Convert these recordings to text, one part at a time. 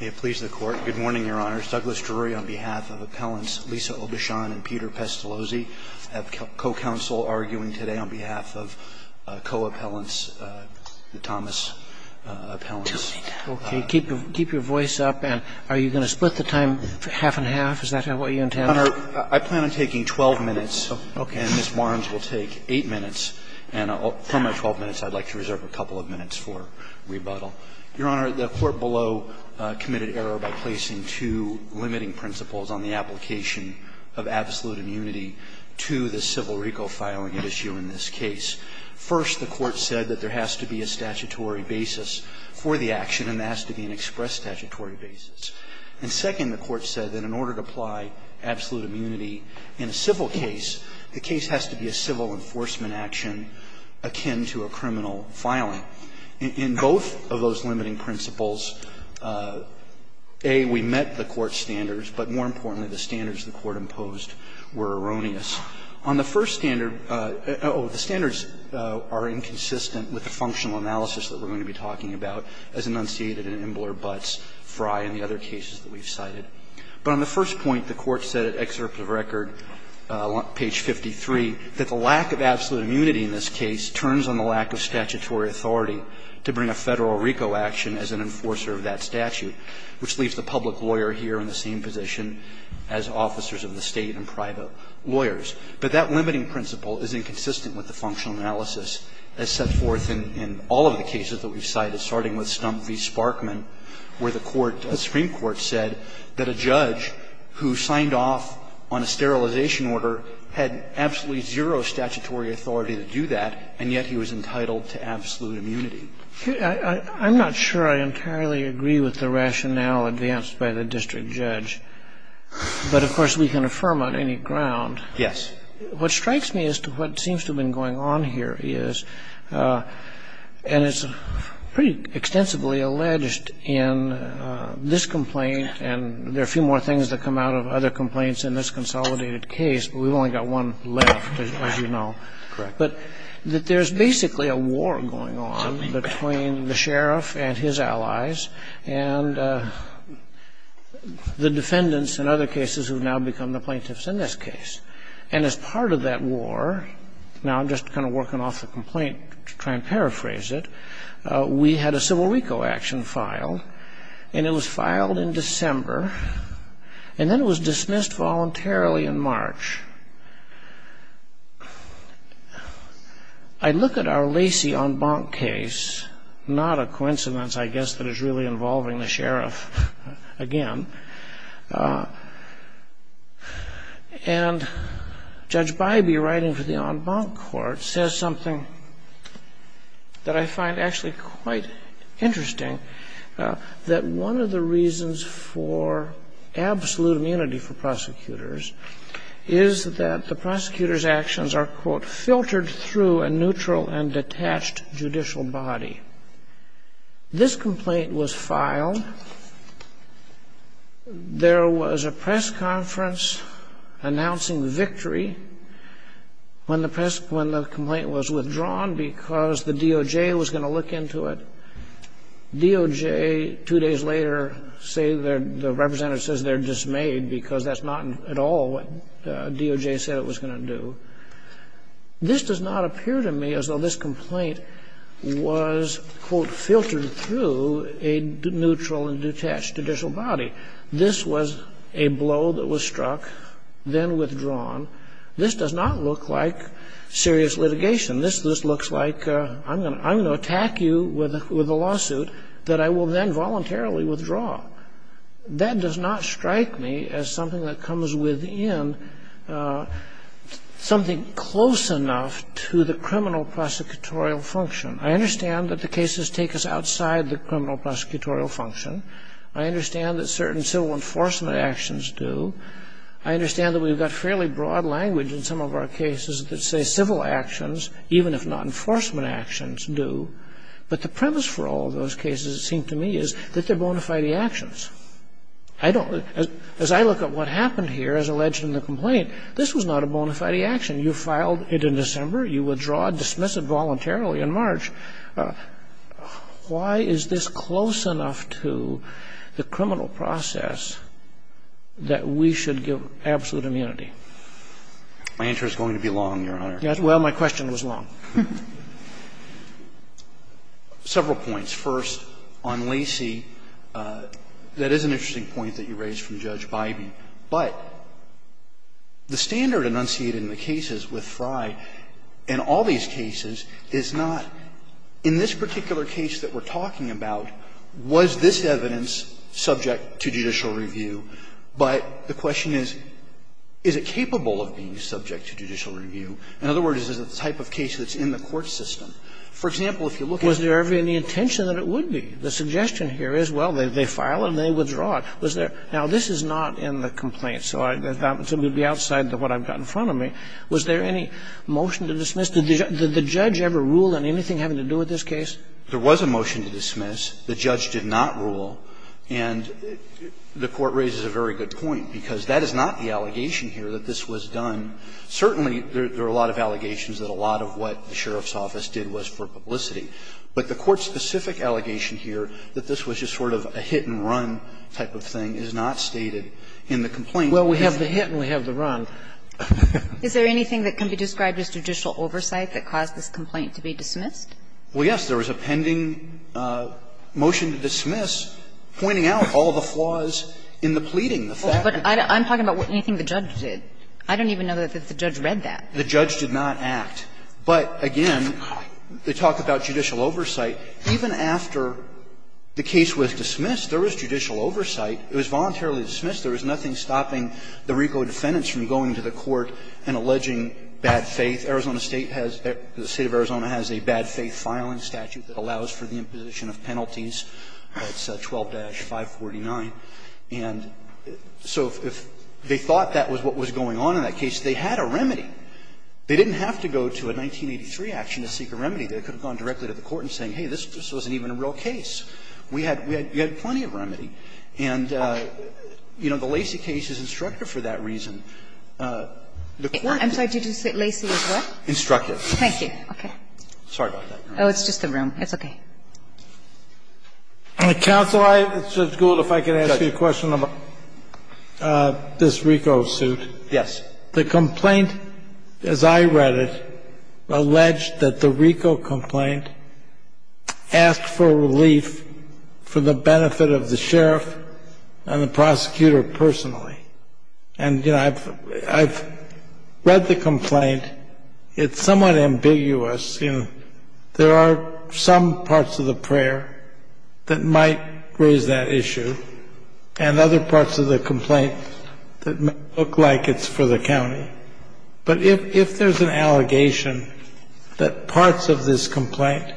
May it please the Court. Good morning, Your Honor. It's Douglas Drury on behalf of Appellants Lisa Obechon and Peter Pestalozzi. I have co-counsel arguing today on behalf of co-appellants, the Thomas appellants. Okay. Keep your voice up. And are you going to split the time half and half? Is that what you intend? Your Honor, I plan on taking 12 minutes. Okay. And Ms. Barnes will take 8 minutes. And from my 12 minutes, I'd like to reserve a couple of minutes for rebuttal. Your Honor, the Court below committed error by placing two limiting principles on the application of absolute immunity to the civil RICO filing at issue in this case. First, the Court said that there has to be a statutory basis for the action and there has to be an express statutory basis. And second, the Court said that in order to apply absolute immunity in a civil case, the case has to be a civil enforcement action akin to a criminal filing. In both of those limiting principles, A, we met the Court's standards, but more importantly, the standards the Court imposed were erroneous. On the first standard, oh, the standards are inconsistent with the functional analysis that we're going to be talking about as enunciated in Imbler, Butts, Fry and the other cases that we've cited. But on the first point, the Court said at excerpt of record, page 53, that the lack of absolute immunity in this case turns on the lack of statutory authority to bring a Federal RICO action as an enforcer of that statute, which leaves the public lawyer here in the same position as officers of the State and private lawyers. But that limiting principle is inconsistent with the functional analysis as set forth in all of the cases that we've cited, starting with Stump v. Sparkman, where the Supreme Court said that a judge who signed off on a sterilization order had absolutely zero statutory authority to do that, and yet he was entitled to absolute immunity. I'm not sure I entirely agree with the rationale advanced by the district judge. But, of course, we can affirm on any ground. Yes. What strikes me as to what seems to have been going on here is, and it's pretty extensively alleged in this complaint, and there are a few more things that come out of other complaints in this consolidated case, but we've only got one left, as you know, that there's basically a war going on between the sheriff and his allies and the defendants in other cases who have now become the plaintiffs in this case. And as part of that war, now I'm just kind of working off the complaint to try and paraphrase it, we had a civil RICO action filed, and it was filed in December, and then it was dismissed voluntarily in March. I look at our Lacey en banc case, not a coincidence, I guess, that it's really involving the sheriff again, and Judge Bybee writing for the en banc court says something that I find actually quite interesting, that one of the reasons for absolute immunity for prosecutors is that the prosecutor's actions are, quote, filtered through a neutral and detached judicial body. This complaint was filed. There was a press conference announcing victory when the complaint was withdrawn because the DOJ was going to look into it. DOJ two days later, the representative says they're dismayed because that's not at all what DOJ said it was going to do. This does not appear to me as though this complaint was, quote, filtered through a neutral and detached judicial body. This was a blow that was struck, then withdrawn. This does not look like serious litigation. This looks like I'm going to attack you with a lawsuit that I will then voluntarily withdraw. That does not strike me as something that comes within something close enough to the criminal prosecutorial function. I understand that the cases take us outside the criminal prosecutorial function. I understand that certain civil enforcement actions do. I understand that we've got fairly broad language in some of our cases that say civil actions, even if not enforcement actions, do. But the premise for all of those cases, it seems to me, is that they're bona fide actions. I don't as I look at what happened here as alleged in the complaint, this was not a bona fide action. You filed it in December. You withdraw. Dismiss it voluntarily in March. Why is this close enough to the criminal process that we should give absolute immunity? My answer is going to be long, Your Honor. Well, my question was long. Several points. First, on Lacey, that is an interesting point that you raised from Judge Bybee. But the standard enunciated in the cases with Frye in all these cases is not, in this particular case that we're talking about, was this evidence subject to judicial review? But the question is, is it capable of being subject to judicial review? In other words, is it the type of case that's in the court system? For example, if you look at it. Was there ever any intention that it would be? The suggestion here is, well, they file it and they withdraw it. Was there – now, this is not in the complaint, so that would be outside what I've got in front of me. Was there any motion to dismiss? Did the judge ever rule on anything having to do with this case? There was a motion to dismiss. The judge did not rule. And the Court raises a very good point, because that is not the allegation here that this was done. Certainly, there are a lot of allegations that a lot of what the sheriff's office did was for publicity. But the court-specific allegation here that this was just sort of a hit-and-run type of thing is not stated in the complaint. Well, we have the hit and we have the run. Is there anything that can be described as judicial oversight that caused this complaint to be dismissed? Well, yes. There was a pending motion to dismiss pointing out all the flaws in the pleading, the fact that it was a hit-and-run. I'm talking about anything the judge did. I don't even know that the judge read that. The judge did not act. But, again, they talk about judicial oversight. Even after the case was dismissed, there was judicial oversight. It was voluntarily dismissed. There was nothing stopping the RICO defendants from going to the court and alleging bad faith. Arizona State has the State of Arizona has a bad faith filing statute that allows for the imposition of penalties. It's 12-549. And so if they thought that was what was going on in that case, they had a remedy. They didn't have to go to a 1983 action to seek a remedy. They could have gone directly to the court and saying, hey, this wasn't even a real case. We had plenty of remedy. And, you know, the Lacey case is instructive for that reason. The court is instructive. I'm sorry, did you say Lacey is what? Instructive. Thank you. Okay. Sorry about that, Your Honor. Oh, it's just the room. It's okay. Counsel, it's good if I could ask you a question about this RICO suit. Yes. The complaint, as I read it, alleged that the RICO complaint asked for relief for the benefit of the sheriff and the prosecutor personally. And, you know, I've read the complaint. It's somewhat ambiguous. You know, there are some parts of the prayer that might raise that issue and other parts of the complaint that look like it's for the county. But if there's an allegation that parts of this complaint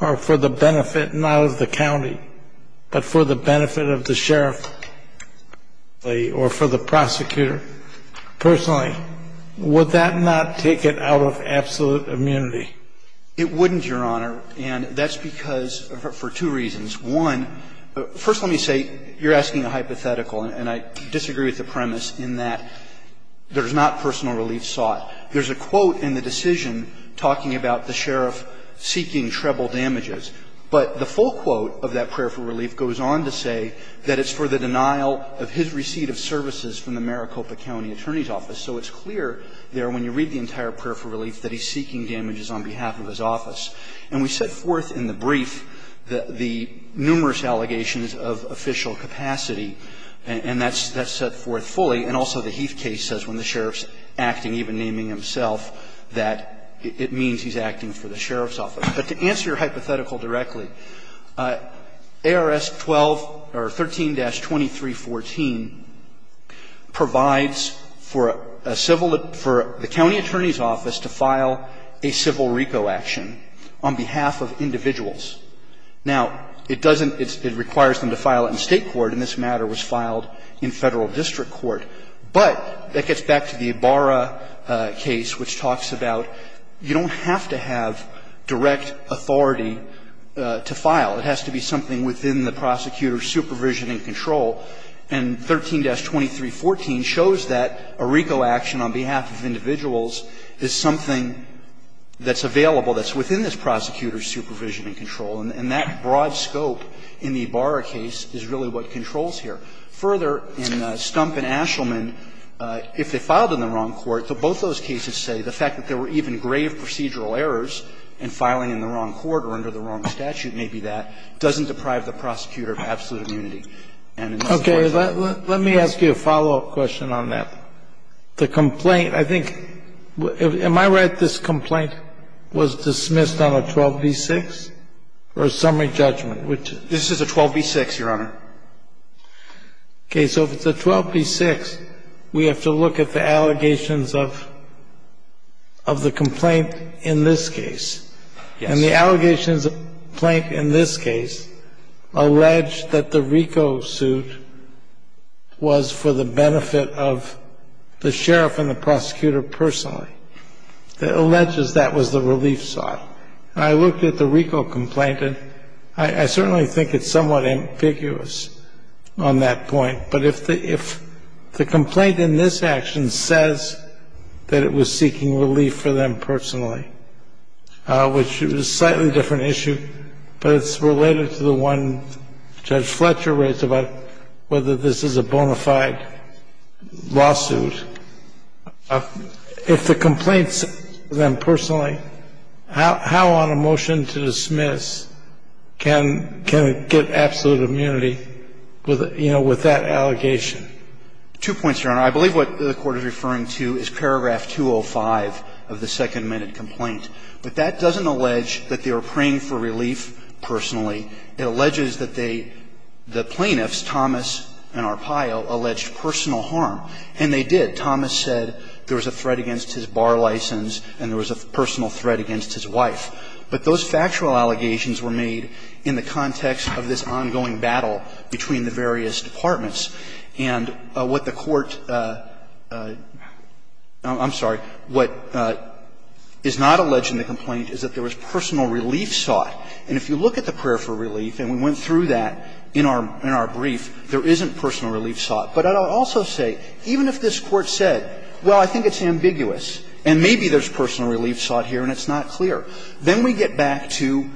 are for the benefit not of the county, but for the benefit of the sheriff or for the prosecutor personally, would that not take it out of absolute immunity? It wouldn't, Your Honor, and that's because for two reasons. One, first let me say, you're asking a hypothetical, and I disagree with the premise in that there's not personal relief sought. There's a quote in the decision talking about the sheriff seeking treble damages. But the full quote of that prayer for relief goes on to say that it's for the denial of his receipt of services from the Maricopa County Attorney's Office. So it's clear there, when you read the entire prayer for relief, that he's seeking damages on behalf of his office. And we set forth in the brief the numerous allegations of official capacity, and that's set forth fully. And also the Heath case says when the sheriff's acting, even naming himself, that it means he's acting for the sheriff's office. But to answer your hypothetical directly, ARS 12 or 13-2314 provides for a person to file a civil RECO action on behalf of individuals. Now, it doesn't – it requires them to file it in State court, and this matter was filed in Federal district court. But that gets back to the Ibarra case, which talks about you don't have to have direct authority to file. It has to be something within the prosecutor's supervision and control. And 13-2314 shows that a RECO action on behalf of individuals is something that's available, that's within this prosecutor's supervision and control. And that broad scope in the Ibarra case is really what controls here. Further, in Stump and Ashelman, if they filed in the wrong court, both those cases say the fact that there were even grave procedural errors in filing in the wrong court or under the wrong statute, maybe that, doesn't deprive the prosecutor of absolute immunity. And in the West Side. Okay. Let me ask you a follow-up question on that. The complaint I think – am I right this complaint was dismissed on a 12b-6 or a summary judgment, which – This is a 12b-6, Your Honor. Okay. So if it's a 12b-6, we have to look at the allegations of – of the complaint in this case. Yes. And the allegations of the complaint in this case allege that the RICO suit was for the benefit of the sheriff and the prosecutor personally. It alleges that was the relief side. I looked at the RICO complaint, and I certainly think it's somewhat ambiguous on that point. But if the – if the complaint in this action says that it was seeking relief for them personally, which is a slightly different issue, but it's related to the one Judge Fletcher raised about whether this is a bona fide lawsuit, if the complaint says it's for them personally, how on a motion to dismiss can – can it get absolute immunity with, you know, with that allegation? Two points, Your Honor. I believe what the Court is referring to is paragraph 205 of the second-minute complaint. But that doesn't allege that they were praying for relief personally. It alleges that they – the plaintiffs, Thomas and Arpaio, alleged personal harm, and they did. Thomas said there was a threat against his bar license and there was a personal threat against his wife. But those factual allegations were made in the context of this ongoing battle between the various departments. And what the Court – I'm sorry. What is not alleged in the complaint is that there was personal relief sought. And if you look at the prayer for relief, and we went through that in our – in our brief, there isn't personal relief sought. But I would also say, even if this Court said, well, I think it's ambiguous and maybe there's personal relief sought here and it's not clear, then we get back to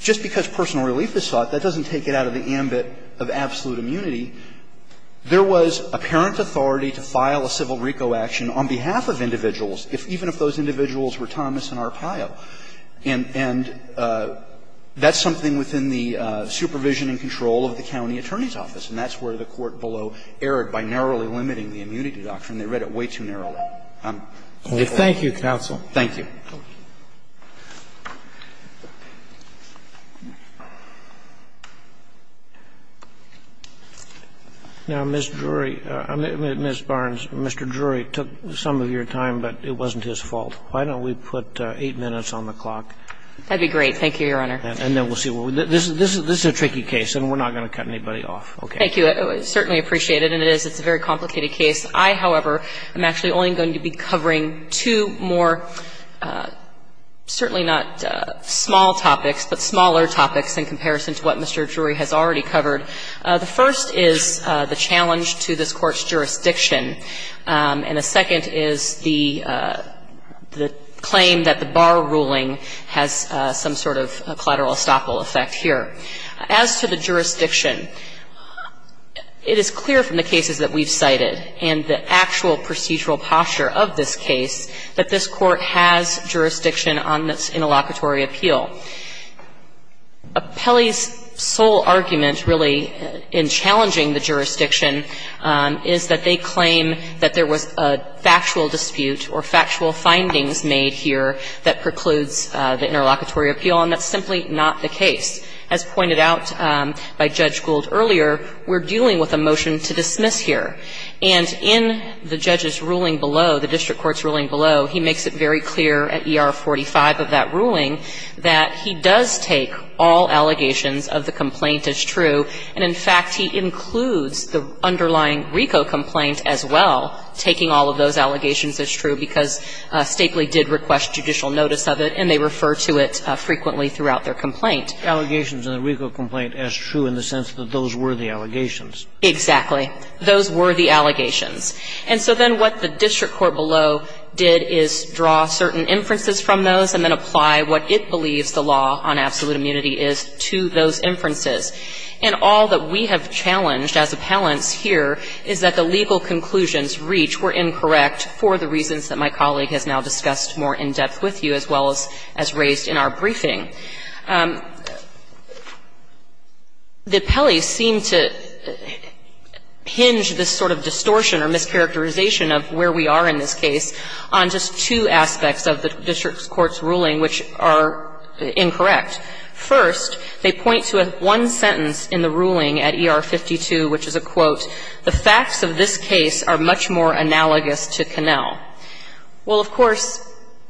just because personal relief is sought, that doesn't take it out of the ambit of absolute immunity. There was apparent authority to file a civil RICO action on behalf of individuals, even if those individuals were Thomas and Arpaio. And that's something within the supervision and control of the county attorney's office, and that's where the Court below erred by narrowly limiting the immunity doctrine. They read it way too narrowly. I'm not sure. Thank you, counsel. Thank you. Now, Ms. Drury, Ms. Barnes, Mr. Drury took some of your time, but it wasn't his fault. Why don't we put 8 minutes on the clock? That would be great. Thank you, Your Honor. And then we'll see what we – this is a tricky case, and we're not going to cut anybody off. Okay. Thank you. I certainly appreciate it, and it is. It's a very complicated case. I, however, am actually only going to be covering two more, certainly not small topics, but smaller topics in comparison to what Mr. Drury has already covered. The first is the challenge to this Court's jurisdiction, and the second is the claim that the bar ruling has some sort of collateral estoppel effect here. As to the jurisdiction, it is clear from the cases that we've cited and the evidence in the actual procedural posture of this case that this Court has jurisdiction on this interlocutory appeal. Pelley's sole argument, really, in challenging the jurisdiction is that they claim that there was a factual dispute or factual findings made here that precludes the interlocutory appeal, and that's simply not the case. As pointed out by Judge Gould earlier, we're dealing with a motion to dismiss here. And in the judge's ruling below, the district court's ruling below, he makes it very clear at ER 45 of that ruling that he does take all allegations of the complaint as true, and in fact, he includes the underlying RICO complaint as well, taking all of those allegations as true, because Stapley did request judicial notice of it, and they refer to it frequently throughout their complaint. Allegations in the RICO complaint as true in the sense that those were the allegations. Exactly. Those were the allegations. And so then what the district court below did is draw certain inferences from those and then apply what it believes the law on absolute immunity is to those inferences. And all that we have challenged as appellants here is that the legal conclusions reached were incorrect for the reasons that my colleague has now discussed more in depth with you as well as raised in our briefing. The appellees seem to hinge this sort of distortion or mischaracterization of where we are in this case on just two aspects of the district court's ruling, which are incorrect. First, they point to one sentence in the ruling at ER 52, which is a quote, the facts of this case are much more analogous to Connell. Well, of course,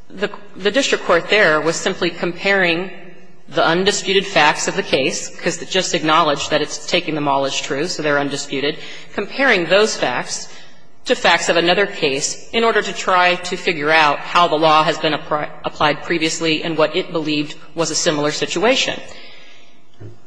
the district court there was simply comparing the facts of the case, because it just acknowledged that it's taking them all as true, so they're undisputed, comparing those facts to facts of another case in order to try to figure out how the law has been applied previously and what it believed was a similar situation.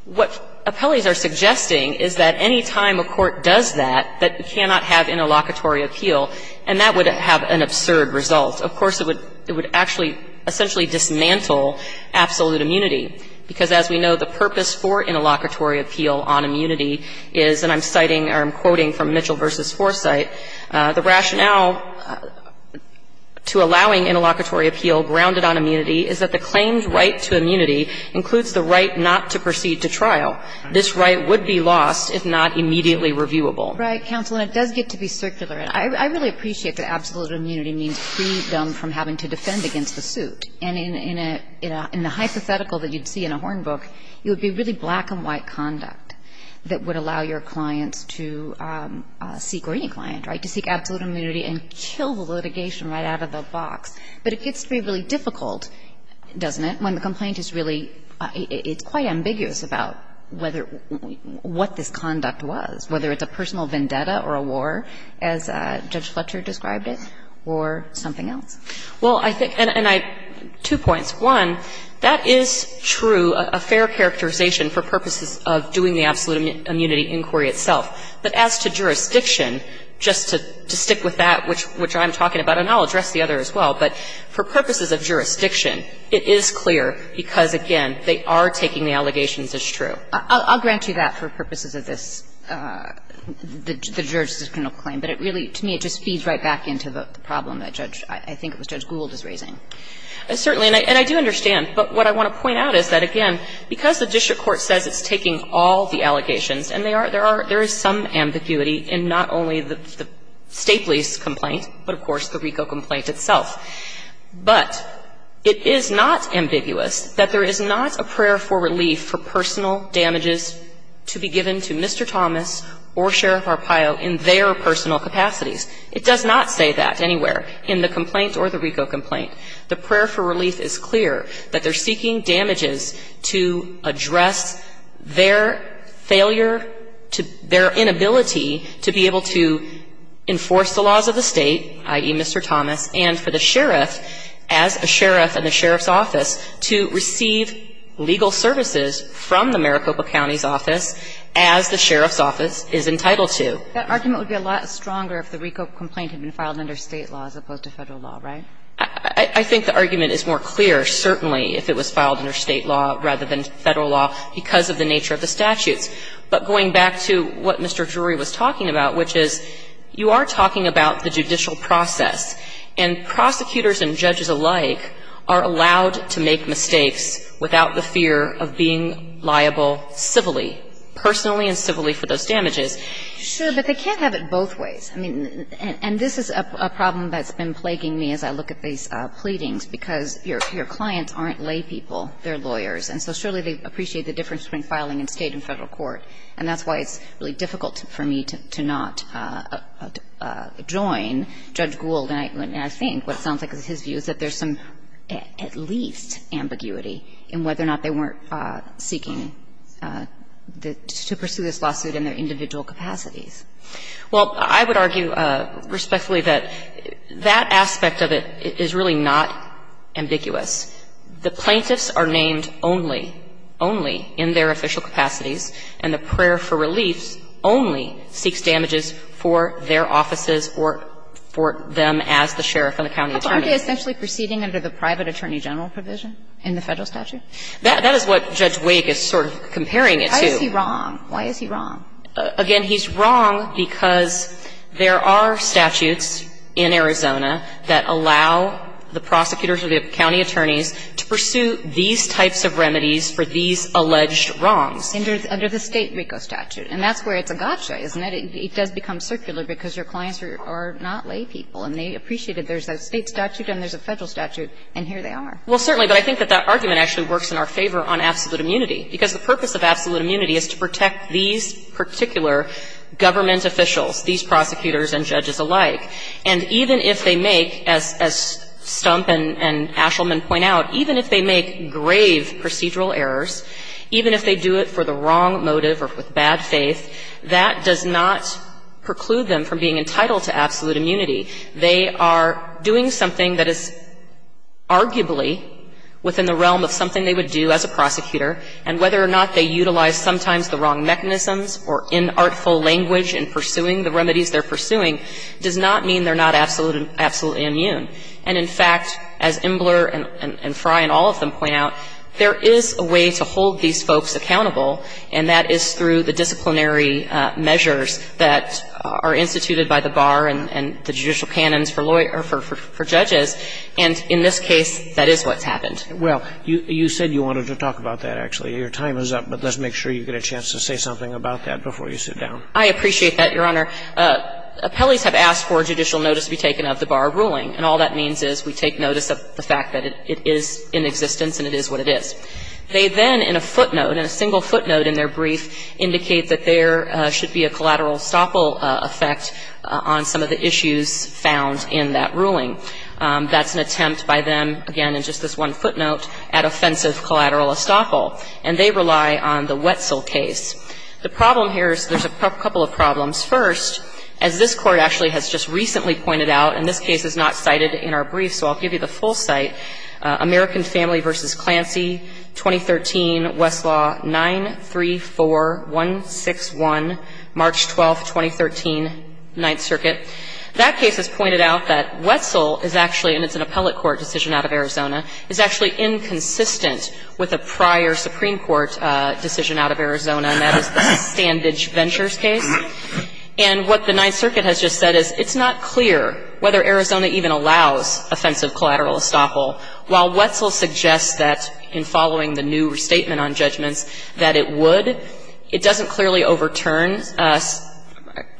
What appellees are suggesting is that any time a court does that, that it cannot have interlocutory appeal, and that would have an absurd result. Of course, it would actually essentially dismantle absolute immunity, because as we know, the purpose for interlocutory appeal on immunity is, and I'm citing or I'm quoting from Mitchell v. Foresight, the rationale to allowing interlocutory appeal grounded on immunity is that the claimed right to immunity includes the right not to proceed to trial. This right would be lost if not immediately reviewable. Right, counsel, and it does get to be circular. I really appreciate that absolute immunity means freedom from having to defend against the suit. And in a hypothetical that you'd see in a Horn book, it would be really black and white conduct that would allow your clients to seek, or any client, right, to seek absolute immunity and kill the litigation right out of the box. But it gets to be really difficult, doesn't it, when the complaint is really, it's quite ambiguous about whether, what this conduct was, whether it's a personal vendetta or a war, as Judge Fletcher described it, or something else. Well, I think, and I, two points. One, that is true, a fair characterization for purposes of doing the absolute immunity inquiry itself. But as to jurisdiction, just to stick with that, which I'm talking about, and I'll address the other as well, but for purposes of jurisdiction, it is clear, because, again, they are taking the allegations as true. I'll grant you that for purposes of this, the jurors' criminal claim. But it really, to me, it just feeds right back into the problem that Judge, I think it was Judge Gould, is raising. Certainly. And I do understand. But what I want to point out is that, again, because the district court says it's taking all the allegations, and there are, there is some ambiguity in not only the Stapley's complaint, but, of course, the RICO complaint itself. But it is not ambiguous that there is not a prayer for relief for personal damages to be given to Mr. Thomas or Sheriff Arpaio in their personal capacities. It does not say that anywhere in the complaint or the RICO complaint. The prayer for relief is clear, that they're seeking damages to address their failure to, their inability to be able to enforce the laws of the State, i.e., Mr. Thomas, and for the sheriff, as a sheriff in the sheriff's office, to receive legal services from the Maricopa County's office as the sheriff's office is entitled to. That argument would be a lot stronger if the RICO complaint had been filed under State law as opposed to Federal law, right? I think the argument is more clear, certainly, if it was filed under State law rather than Federal law, because of the nature of the statutes. But going back to what Mr. Drury was talking about, which is, you are talking about the judicial process, and prosecutors and judges alike are allowed to make liable civilly, personally and civilly, for those damages. Sure, but they can't have it both ways. I mean, and this is a problem that's been plaguing me as I look at these pleadings, because your clients aren't laypeople, they're lawyers, and so surely they appreciate the difference between filing in State and Federal court. And that's why it's really difficult for me to not join Judge Gould, and I think what it sounds like is his view, is that there's some, at least, ambiguity in whether or not they weren't seeking to pursue this lawsuit in their individual capacities. Well, I would argue respectfully that that aspect of it is really not ambiguous. The plaintiffs are named only, only in their official capacities, and the prayer for reliefs only seeks damages for their offices or for them as the sheriff and the county attorney. Aren't they essentially proceeding under the private attorney general provision in the Federal statute? That is what Judge Wake is sort of comparing it to. Why is he wrong? Why is he wrong? Again, he's wrong because there are statutes in Arizona that allow the prosecutors or the county attorneys to pursue these types of remedies for these alleged wrongs. Under the State RICO statute, and that's where it's a gotcha, isn't it? It does become circular because your clients are not laypeople, and they appreciate that there's a State statute and there's a Federal statute, and here they are. Well, certainly, but I think that that argument actually works in our favor on absolute immunity, because the purpose of absolute immunity is to protect these particular government officials, these prosecutors and judges alike. And even if they make, as Stump and Ashelman point out, even if they make grave procedural errors, even if they do it for the wrong motive or with bad faith, that does not preclude them from being entitled to absolute immunity. They are doing something that is arguably within the realm of something they would do as a prosecutor, and whether or not they utilize sometimes the wrong mechanisms or inartful language in pursuing the remedies they're pursuing does not mean they're not absolute immune. And, in fact, as Imbler and Frey and all of them point out, there is a way to hold these folks accountable, and that is through the disciplinary measures that are instituted by the bar and the judicial canons for lawyers or for judges, and in this case, that is what's happened. Well, you said you wanted to talk about that, actually. Your time is up, but let's make sure you get a chance to say something about that before you sit down. I appreciate that, Your Honor. Appellees have asked for judicial notice to be taken of the bar ruling, and all that means is we take notice of the fact that it is in existence and it is what it is. They then, in a footnote, in a single footnote in their brief, indicate that there should be a collateral estoppel effect on some of the issues found in that ruling. That's an attempt by them, again, in just this one footnote, at offensive collateral estoppel, and they rely on the Wetzel case. The problem here is there's a couple of problems. First, as this Court actually has just recently pointed out, and this case is not cited in our brief, so I'll give you the full cite, American Family v. Clancy, 2013, West Country, 4161, March 12th, 2013, Ninth Circuit. That case has pointed out that Wetzel is actually, and it's an appellate court decision out of Arizona, is actually inconsistent with a prior Supreme Court decision out of Arizona, and that is the Standage Ventures case. And what the Ninth Circuit has just said is it's not clear whether Arizona even allows offensive collateral estoppel, while Wetzel suggests that, in following the new statement on judgments, that it would, it doesn't clearly overturn.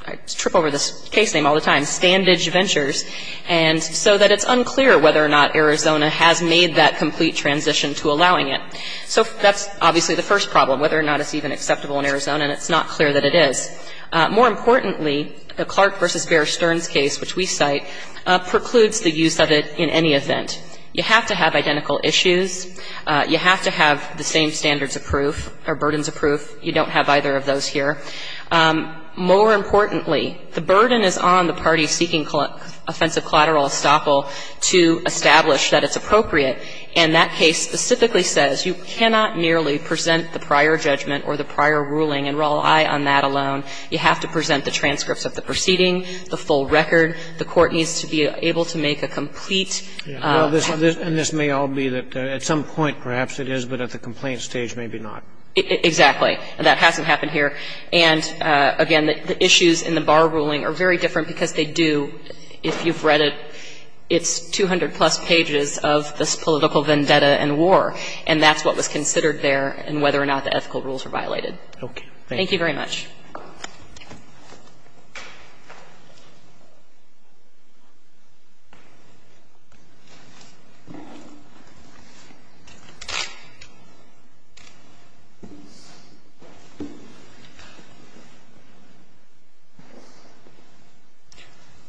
I trip over this case name all the time, Standage Ventures, and so that it's unclear whether or not Arizona has made that complete transition to allowing it. So that's obviously the first problem, whether or not it's even acceptable in Arizona, and it's not clear that it is. More importantly, the Clark v. Bear Stearns case, which we cite, precludes the use of it in any event. You have to have identical issues. You have to have the same standards of proof, or burdens of proof. You don't have either of those here. More importantly, the burden is on the parties seeking offensive collateral estoppel to establish that it's appropriate. And that case specifically says you cannot merely present the prior judgment or the prior ruling and rely on that alone. You have to present the transcripts of the proceeding, the full record. The Court needs to be able to make a complete transition. Roberts. And this may all be that at some point, perhaps it is, but at the complaint stage, maybe not. Exactly. And that hasn't happened here. And, again, the issues in the Barr ruling are very different because they do, if you've read it, it's 200-plus pages of this political vendetta and war. And that's what was considered there and whether or not the ethical rules are violated. Okay. Thank you very much.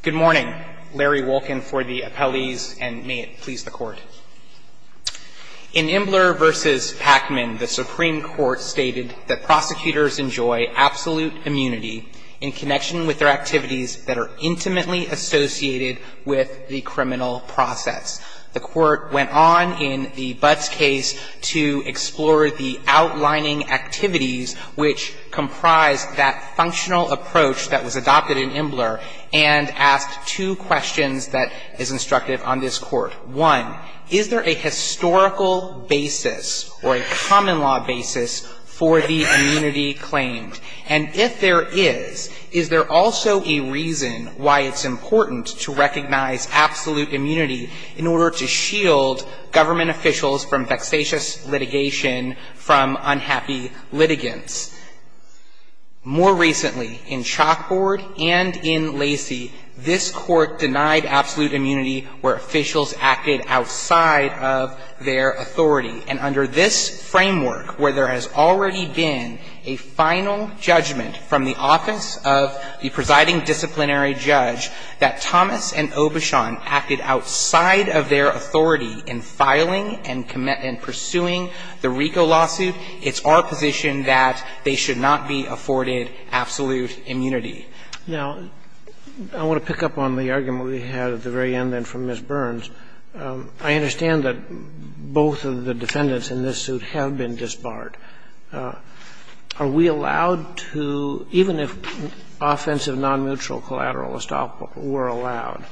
Good morning. Larry Wolkin for the appellees, and may it please the Court. In Imbler v. Pacman, the Supreme Court stated that prosecutors enjoy absolute freedom of expression and absolute immunity in connection with their activities that are intimately associated with the criminal process. The Court went on in the Butts case to explore the outlining activities which comprised that functional approach that was adopted in Imbler and asked two questions that is instructive on this Court. One, is there a historical basis or a common law basis for the immunity claimed? And if there is, is there also a reason why it's important to recognize absolute immunity in order to shield government officials from vexatious litigation from unhappy litigants? More recently, in Chalkboard and in Lacey, this Court denied absolute immunity where officials acted outside of their authority. And under this framework, where there has already been a final judgment from the office of the presiding disciplinary judge that Thomas and Obishon acted outside of their authority in filing and pursuing the RICO lawsuit, it's our position that they should not be afforded absolute immunity. Now, I want to pick up on the argument we had at the very end then from Ms. Burns. I understand that both of the defendants in this suit have been disbarred. Are we allowed to, even if offensive non-mutual collateral were allowed,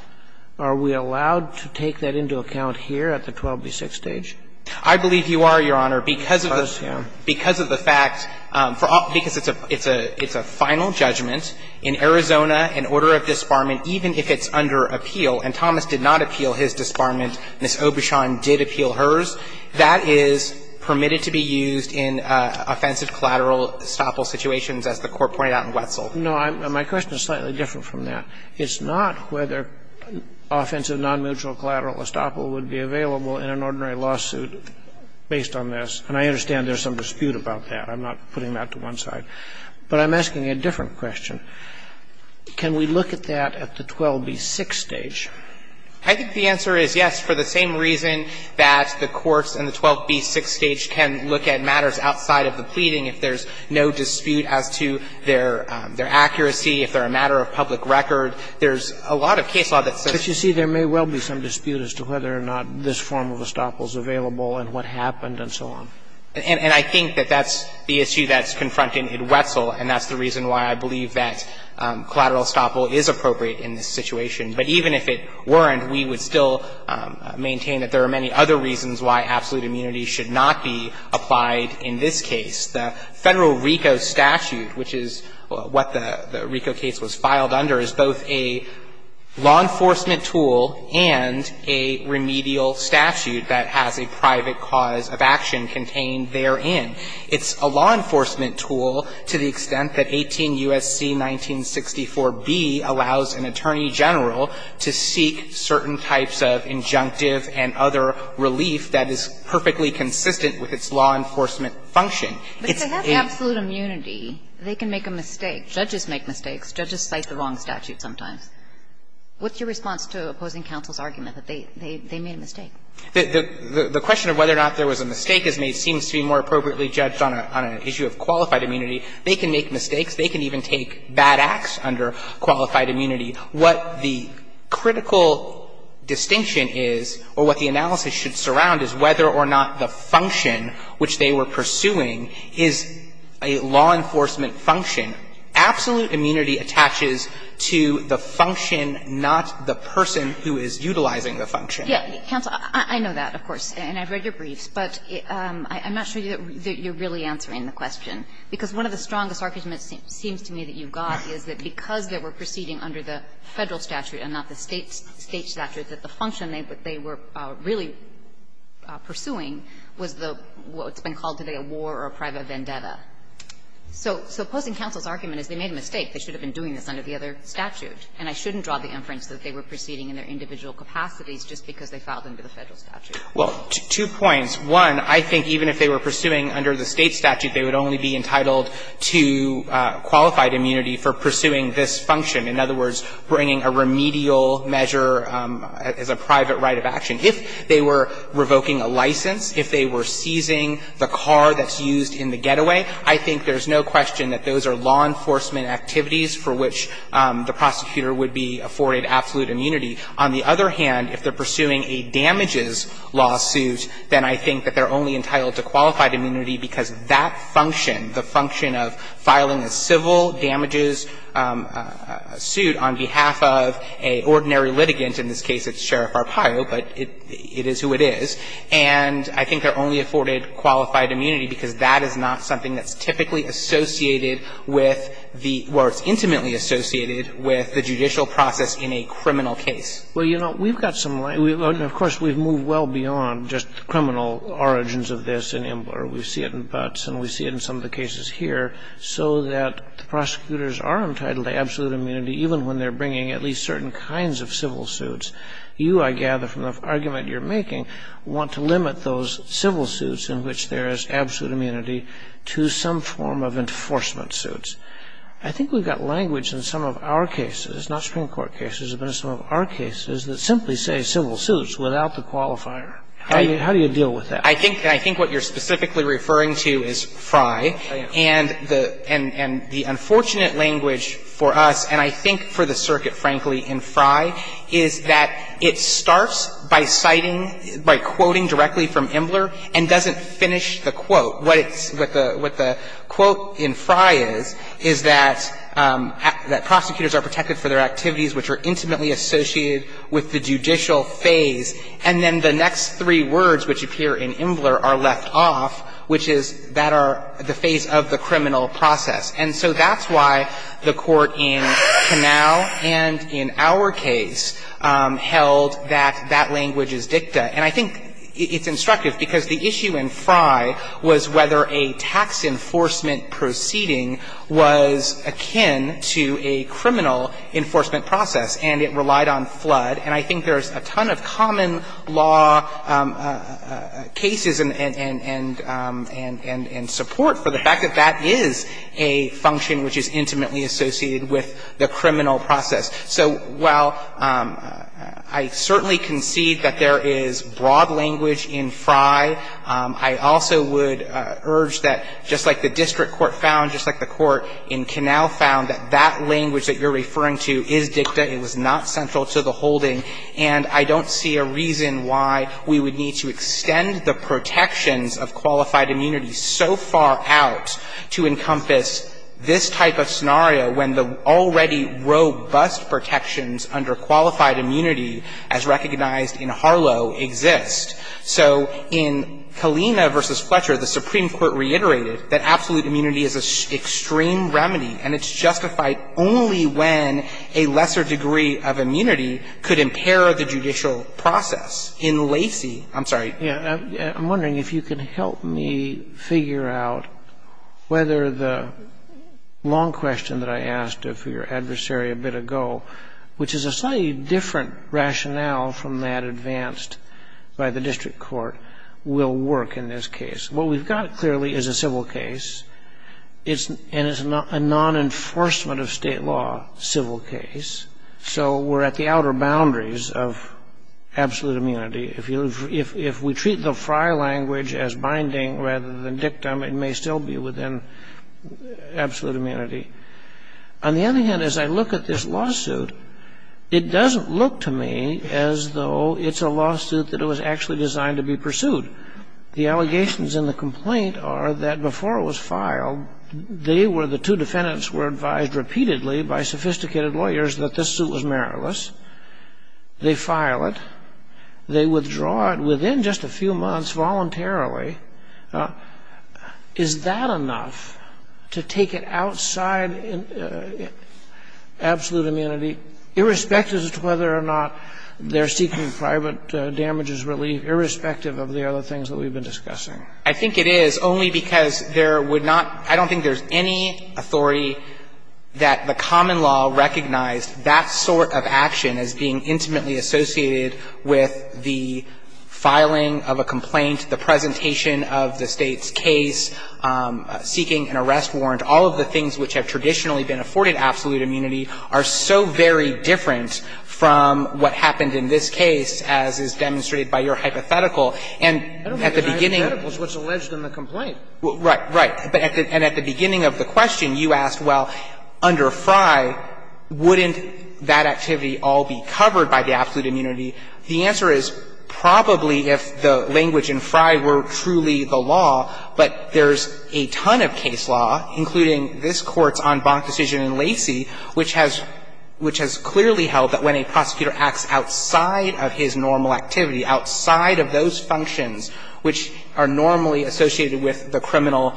are we allowed to take that into account here at the 12b6 stage? I believe you are, Your Honor, because of the fact, because it's a final judgment in Arizona, an order of disbarment, even if it's under appeal, and Thomas did not disbarment, Ms. Obishon did appeal hers, that is permitted to be used in offensive collateral estoppel situations, as the Court pointed out in Wetzel. No, my question is slightly different from that. It's not whether offensive non-mutual collateral estoppel would be available in an ordinary lawsuit based on this. And I understand there's some dispute about that. I'm not putting that to one side. But I'm asking a different question. Can we look at that at the 12b6 stage? I think the answer is yes, for the same reason that the courts in the 12b6 stage can look at matters outside of the pleading. If there's no dispute as to their accuracy, if they're a matter of public record, there's a lot of case law that says that. But you see, there may well be some dispute as to whether or not this form of estoppel is available and what happened and so on. And I think that that's the issue that's confronting in Wetzel, and that's the reason why I believe that collateral estoppel is appropriate in this situation. But even if it weren't, we would still maintain that there are many other reasons why absolute immunity should not be applied in this case. The Federal RICO statute, which is what the RICO case was filed under, is both a law enforcement tool and a remedial statute that has a private cause of action contained therein. It's a law enforcement tool to the extent that 18 U.S.C. 1964b allows an attorney general to seek certain types of injunctive and other relief that is perfectly consistent with its law enforcement function. It's a ---- But if they have absolute immunity, they can make a mistake. Judges make mistakes. Judges cite the wrong statute sometimes. What's your response to opposing counsel's argument that they made a mistake? The question of whether or not there was a mistake is made seems to be more appropriately judged on an issue of qualified immunity. They can make mistakes. They can even take bad acts under qualified immunity. What the critical distinction is, or what the analysis should surround, is whether or not the function which they were pursuing is a law enforcement function. Absolute immunity attaches to the function, not the person who is utilizing the function. Yeah. Counsel, I know that, of course, and I've read your briefs, but I'm not sure that you're really answering the question, because one of the strongest arguments seems to me that you've got is that because they were proceeding under the Federal statute and not the State statute, that the function they were really pursuing was the what's been called today a war or a private vendetta. So opposing counsel's argument is they made a mistake. They should have been doing this under the other statute, and I shouldn't draw the inference that they were proceeding in their individual capacities just because they filed under the Federal statute. Well, two points. One, I think even if they were pursuing under the State statute, they would only be entitled to qualified immunity for pursuing this function. In other words, bringing a remedial measure as a private right of action. If they were revoking a license, if they were seizing the car that's used in the getaway, I think there's no question that those are law enforcement activities for which the prosecutor would be afforded absolute immunity. On the other hand, if they're pursuing a damages lawsuit, then I think that they're only entitled to qualified immunity because that function, the function of filing a civil damages suit on behalf of an ordinary litigant, in this case it's Sheriff Arpaio, but it is who it is, and I think they're only afforded qualified immunity because that is not something that's typically associated with the or it's intimately associated with the judicial process in a criminal case. Well, you know, we've got some rights. And of course, we've moved well beyond just the criminal origins of this in Imbler. We see it in Butts, and we see it in some of the cases here, so that the prosecutors are entitled to absolute immunity even when they're bringing at least certain kinds of civil suits. You, I gather from the argument you're making, want to limit those civil suits in which there is absolute immunity to some form of enforcement suits. I think we've got language in some of our cases, not Supreme Court cases, but in some of our cases that simply say civil suits without the qualifier. How do you deal with that? I think what you're specifically referring to is Frye. And the unfortunate language for us, and I think for the circuit, frankly, in Frye, is that it starts by citing, by quoting directly from Imbler and doesn't finish the quote. What it's, what the quote in Frye is, is that prosecutors are protected for their time associated with the judicial phase, and then the next three words which appear in Imbler are left off, which is that are the phase of the criminal process. And so that's why the Court in Canal and in our case held that that language is dicta. And I think it's instructive, because the issue in Frye was whether a tax enforcement proceeding was akin to a criminal enforcement process, and it relied on flood. And I think there's a ton of common law cases and support for the fact that that is a function which is intimately associated with the criminal process. So while I certainly concede that there is broad language in Frye, I also would urge that, just like the district court found, just like the court in Canal found, that that language that you're referring to is dicta. It was not central to the holding. And I don't see a reason why we would need to extend the protections of qualified immunity so far out to encompass this type of scenario when the already robust protections under qualified immunity, as recognized in Harlow, exist. So in Kalina v. Fletcher, the Supreme Court reiterated that absolute immunity is an extreme remedy, and it's justified only when a lesser degree of immunity could impair the judicial process. In Lacey — I'm sorry. Sotomayor, I'm wondering if you could help me figure out whether the long question that I asked of your adversary a bit ago, which is a slightly different rationale from that advanced by the district court, will work in this case. What we've got, clearly, is a civil case, and it's a non-enforcement-of-state-law civil case, so we're at the outer boundaries of absolute immunity. If we treat the Frye language as binding rather than dictum, it may still be within absolute immunity. On the other hand, as I look at this lawsuit, it doesn't look to me as though it's a lawsuit that it was actually designed to be pursued. The allegations in the complaint are that before it was filed, they were — the two defendants were advised repeatedly by sophisticated lawyers that this suit was meritless. They file it. They withdraw it within just a few months voluntarily. Is that enough to take it outside absolute immunity, irrespective of whether or not they're seeking private damages relief, irrespective of the other things that we've been discussing? I think it is, only because there would not — I don't think there's any authority that the common law recognized that sort of action as being intimately associated with the filing of a complaint, the presentation of the State's case, seeking an arrest warrant, all of the things which have traditionally been afforded absolute immunity are so very different from what happened in this case, as is demonstrated by your hypothetical. And at the beginning of the question, you asked, well, under Frye, wouldn't that activity all be covered by the absolute immunity? The answer is, probably, if the language in Frye were truly the law, but there's a ton of case law, including this Court's en banc decision in Lacey, which has — which has clearly held that when a prosecutor acts outside of his normal activity, outside of those functions which are normally associated with the criminal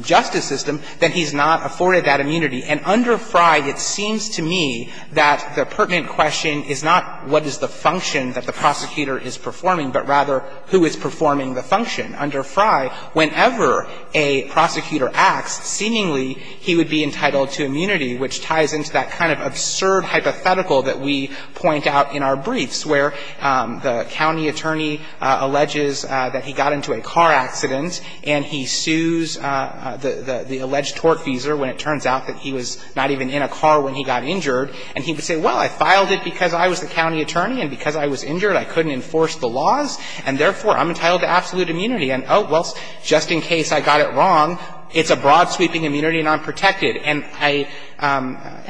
justice system, that he's not afforded that immunity. And under Frye, it seems to me that the pertinent question is not what is the function that the prosecutor is performing, but rather who is performing the function. Under Frye, whenever a prosecutor acts, seemingly he would be entitled to immunity, which ties into that kind of absurd hypothetical that we point out in our briefs, where the county attorney alleges that he got into a car accident and he sues the alleged tortfeasor when it turns out that he was not even in a car when he got injured. And he would say, well, I filed it because I was the county attorney, and because I was injured, I couldn't enforce the laws, and, therefore, I'm entitled to absolute immunity. And, oh, well, just in case I got it wrong, it's a broad-sweeping immunity and I'm protected. And I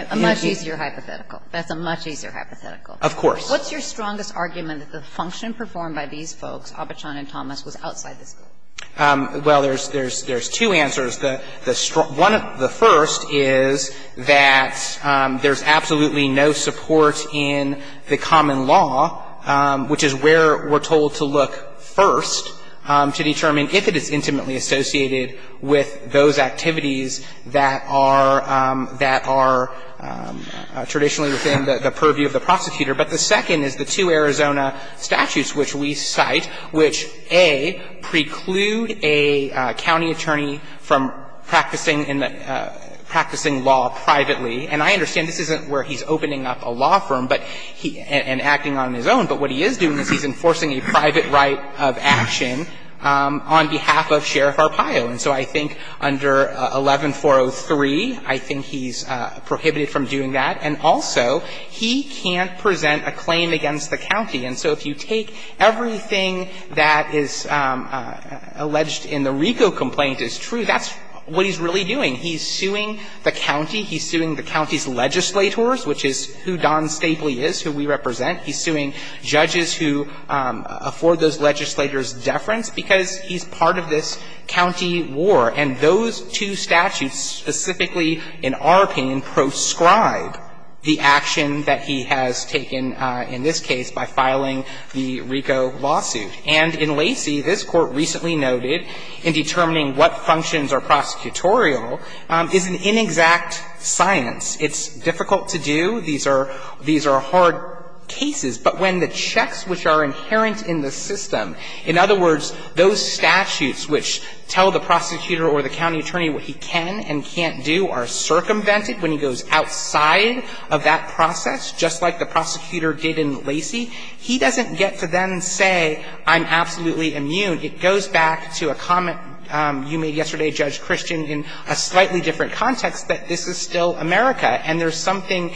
— A much easier hypothetical. That's a much easier hypothetical. Of course. What's your strongest argument that the function performed by these folks, Abachon and Thomas, was outside the school? Well, there's two answers. The first is that there's absolutely no support in the common law, which is where we're told to look first to determine if it is intimately associated with those activities that are traditionally within the purview of the prosecutor. But the second is the two Arizona statutes which we cite, which, A, precludes a county attorney from practicing in the — practicing law privately. And I understand this isn't where he's opening up a law firm, but he — and acting on his own. But what he is doing is he's enforcing a private right of action on behalf of Sheriff Arpaio. And so I think under 11-403, I think he's prohibited from doing that. And also, he can't present a claim against the county. And so if you take everything that is alleged in the RICO complaint as true, that's what he's really doing. He's suing the county. He's suing the county's legislators, which is who Don Stapley is, who we represent. He's suing judges who afford those legislators deference because he's part of this county war. And those two statutes specifically, in our opinion, proscribe the action that he has taken in this case by filing the RICO lawsuit. And in Lacey, this Court recently noted in determining what functions are prosecutorial is an inexact science. It's difficult to do. These are — these are hard cases. But when the checks which are inherent in the system — in other words, those statutes which tell the prosecutor or the county attorney what he can and can't do are circumvented when he goes outside of that process, just like the prosecutor did in Lacey. He doesn't get to then say, I'm absolutely immune. It goes back to a comment you made yesterday, Judge Christian, in a slightly different context that this is still America. And there's something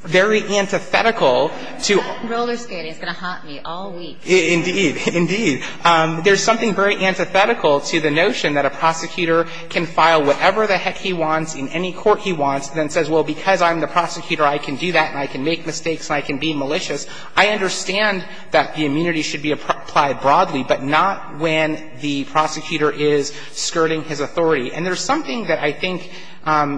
very antithetical to — That roller skating is going to haunt me all week. Indeed. Indeed. There's something very antithetical to the notion that a prosecutor can file whatever the heck he wants in any court he wants, then says, well, because I'm the prosecutor, I can do that and I can make mistakes and I can be malicious. I understand that the immunity should be applied broadly, but not when the prosecutor is skirting his authority. And there's something that I think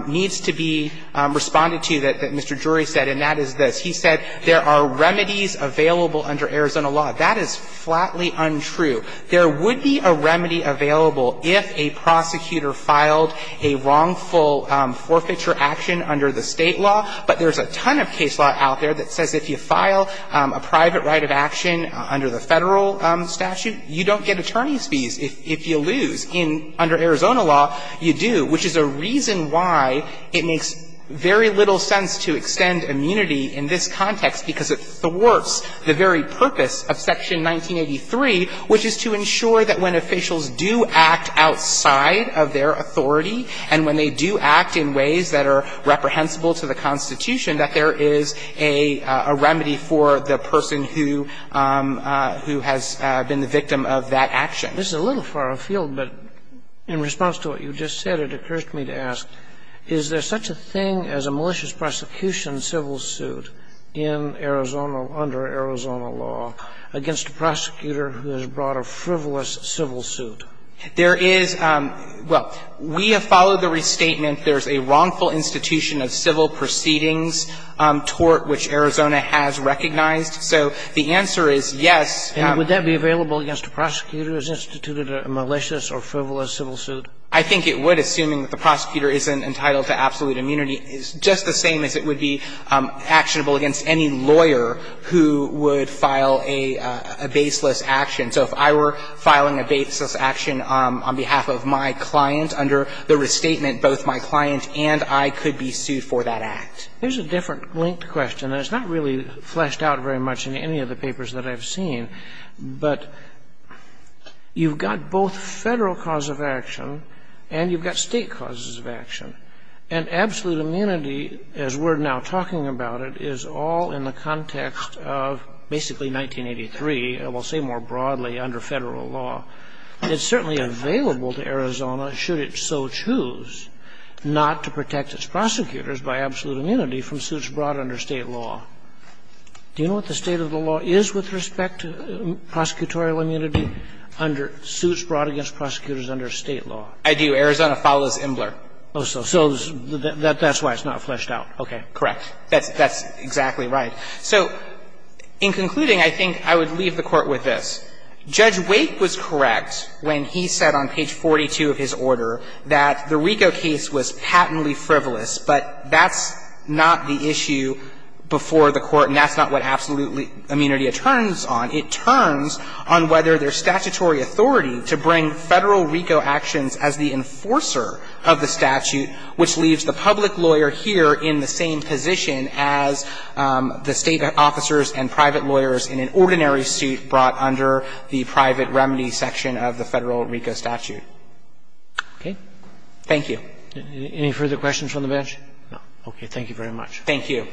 needs to be responded to that Mr. Drury said, and that is this. He said there are remedies available under Arizona law. That is flatly untrue. There would be a remedy available if a prosecutor filed a wrongful forfeiture action under the State law, but there's a ton of case law out there that says if you file a private right of action under the Federal statute, you don't get attorney's fees if you lose. In — under Arizona law, you do, which is a reason why it makes very little sense to extend immunity in this context, because it thwarts the very purpose of Section 183, which is to ensure that when officials do act outside of their authority and when they do act in ways that are reprehensible to the Constitution, that there is a remedy for the person who — who has been the victim of that action. This is a little far afield, but in response to what you just said, it occurs to me to ask, is there such a thing as a malicious prosecution civil suit in Arizona under Arizona law against a prosecutor who has brought a frivolous civil suit? There is — well, we have followed the restatement. There's a wrongful institution of civil proceedings tort which Arizona has recognized. So the answer is yes. And would that be available against a prosecutor who has instituted a malicious or frivolous civil suit? I think it would, assuming that the prosecutor isn't entitled to absolute immunity. It's just the same as it would be actionable against any lawyer who would file a baseless action. So if I were filing a baseless action on behalf of my client under the restatement, both my client and I could be sued for that act. There's a different linked question. And it's not really fleshed out very much in any of the papers that I've seen. But you've got both Federal cause of action and you've got State causes of action. And absolute immunity, as we're now talking about it, is all in the context of basically 1983, and we'll say more broadly under Federal law. It's certainly available to Arizona, should it so choose, not to protect its prosecutors by absolute immunity from suits brought under State law. Do you know what the state of the law is with respect to prosecutorial immunity under suits brought against prosecutors under State law? I do. Arizona follows Imbler. So that's why it's not fleshed out. Okay. Correct. That's exactly right. So in concluding, I think I would leave the Court with this. Judge Wake was correct when he said on page 42 of his order that the RICO case was patently frivolous, but that's not the issue before the Court, and that's not what absolute immunity turns on. It turns on whether there's statutory authority to bring Federal RICO actions as the enforcer of the statute, which leaves the public lawyer here in the same position as the State officers and private lawyers in an ordinary suit brought under the private remedy section of the Federal RICO statute. Okay. Thank you. Any further questions from the bench? No. Okay. Thank you very much. Thank you.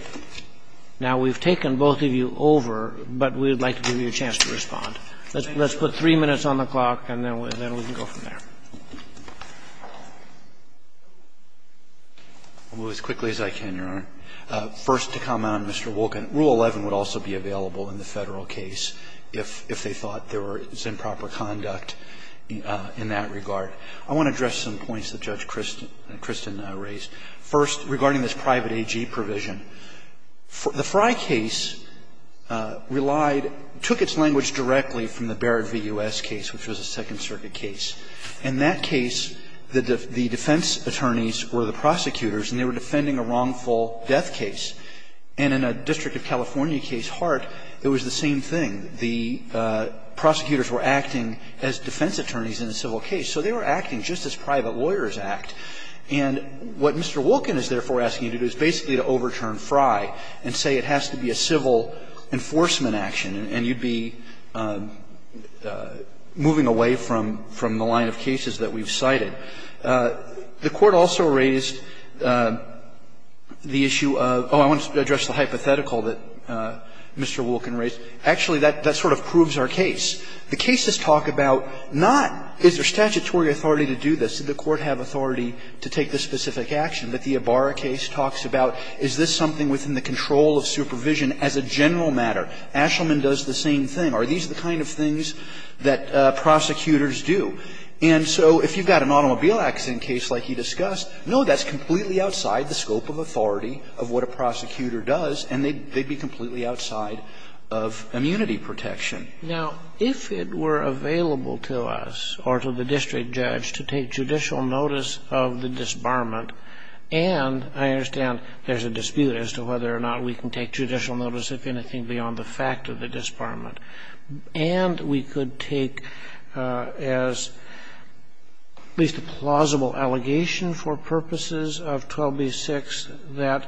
Now, we've taken both of you over, but we would like to give you a chance to respond. Let's put three minutes on the clock, and then we can go from there. I'll go as quickly as I can, Your Honor. First, to comment on Mr. Wolkin, Rule 11 would also be available in the Federal case if they thought there was improper conduct in that regard. I want to address some points that Judge Christin raised. First, regarding this private AG provision, the Frye case relied – took its language directly from the Barrett v. U.S. case, which was a Second Circuit case. In that case, the defense attorneys were the prosecutors, and they were defending a wrongful death case. And in a District of California case, Hart, it was the same thing. The prosecutors were acting as defense attorneys in a civil case. So they were acting just as private lawyers act. And what Mr. Wolkin is therefore asking you to do is basically to overturn Frye and say it has to be a civil enforcement action, and you'd be moving away from the line of cases that we've cited. The Court also raised the issue of – oh, I want to address the hypothetical that Mr. Wolkin raised. Actually, that sort of proves our case. The cases talk about not is there statutory authority to do this, did the Court have authority to take this specific action, but the Ibarra case talks about is this something within the control of supervision as a general matter? Ashelman does the same thing. Are these the kind of things that prosecutors do? And so if you've got an automobile accident case like he discussed, no, that's completely outside the scope of authority of what a prosecutor does, and they'd be completely outside of immunity protection. Now, if it were available to us or to the district judge to take judicial notice of the disbarment, and I understand there's a dispute as to whether or not we can take judicial notice, if anything, beyond the fact of the disbarment, and we could take as at least a plausible allegation for purposes of 12b-6 that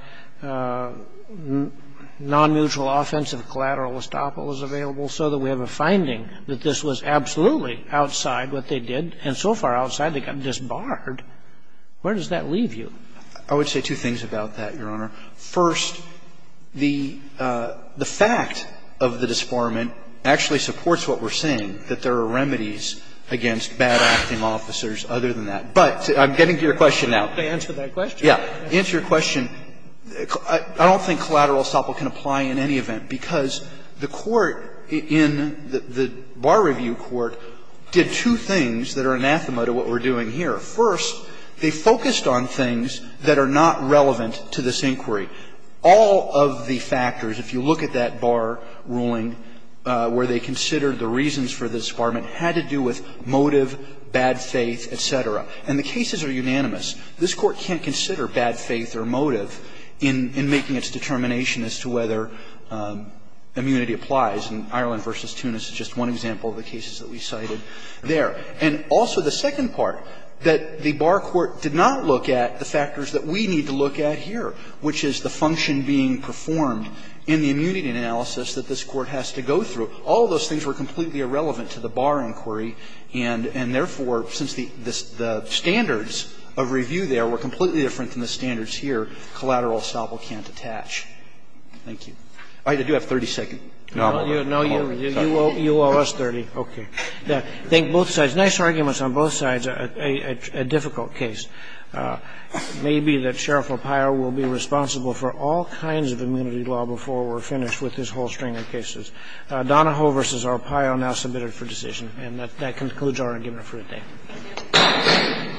non-neutral offensive collateral estoppel is available so that we have a finding that this was absolutely outside what they did, and so far outside, they got disbarred, where does that leave you? I would say two things about that, Your Honor. First, the fact of the disbarment actually supports what we're saying, that there are remedies against bad-acting officers other than that. But I'm getting to your question now. Can I answer that question? Yeah. Answer your question. I don't think collateral estoppel can apply in any event, because the Court in the Bar Review Court did two things that are anathema to what we're doing here. First, they focused on things that are not relevant to this inquiry. All of the factors, if you look at that Bar ruling where they considered the reasons for the disbarment, had to do with motive, bad faith, et cetera. And the cases are unanimous. This Court can't consider bad faith or motive in making its determination as to whether immunity applies. And Ireland v. Tunis is just one example of the cases that we cited there. And also the second part, that the Bar Court did not look at the factors that we need to look at here, which is the function being performed in the immunity analysis that this Court has to go through. All of those things were completely irrelevant to the Bar inquiry, and therefore, since the standards of review there were completely different than the standards here, collateral estoppel can't attach. Thank you. I do have 30 seconds. No, you owe us 30. OK. I think both sides, nice arguments on both sides, a difficult case. Maybe that Sheriff Arpaio will be responsible for all kinds of immunity law before we're finished with this whole string of cases. Donahoe v. Arpaio now submitted for decision. And that concludes our argument for the day.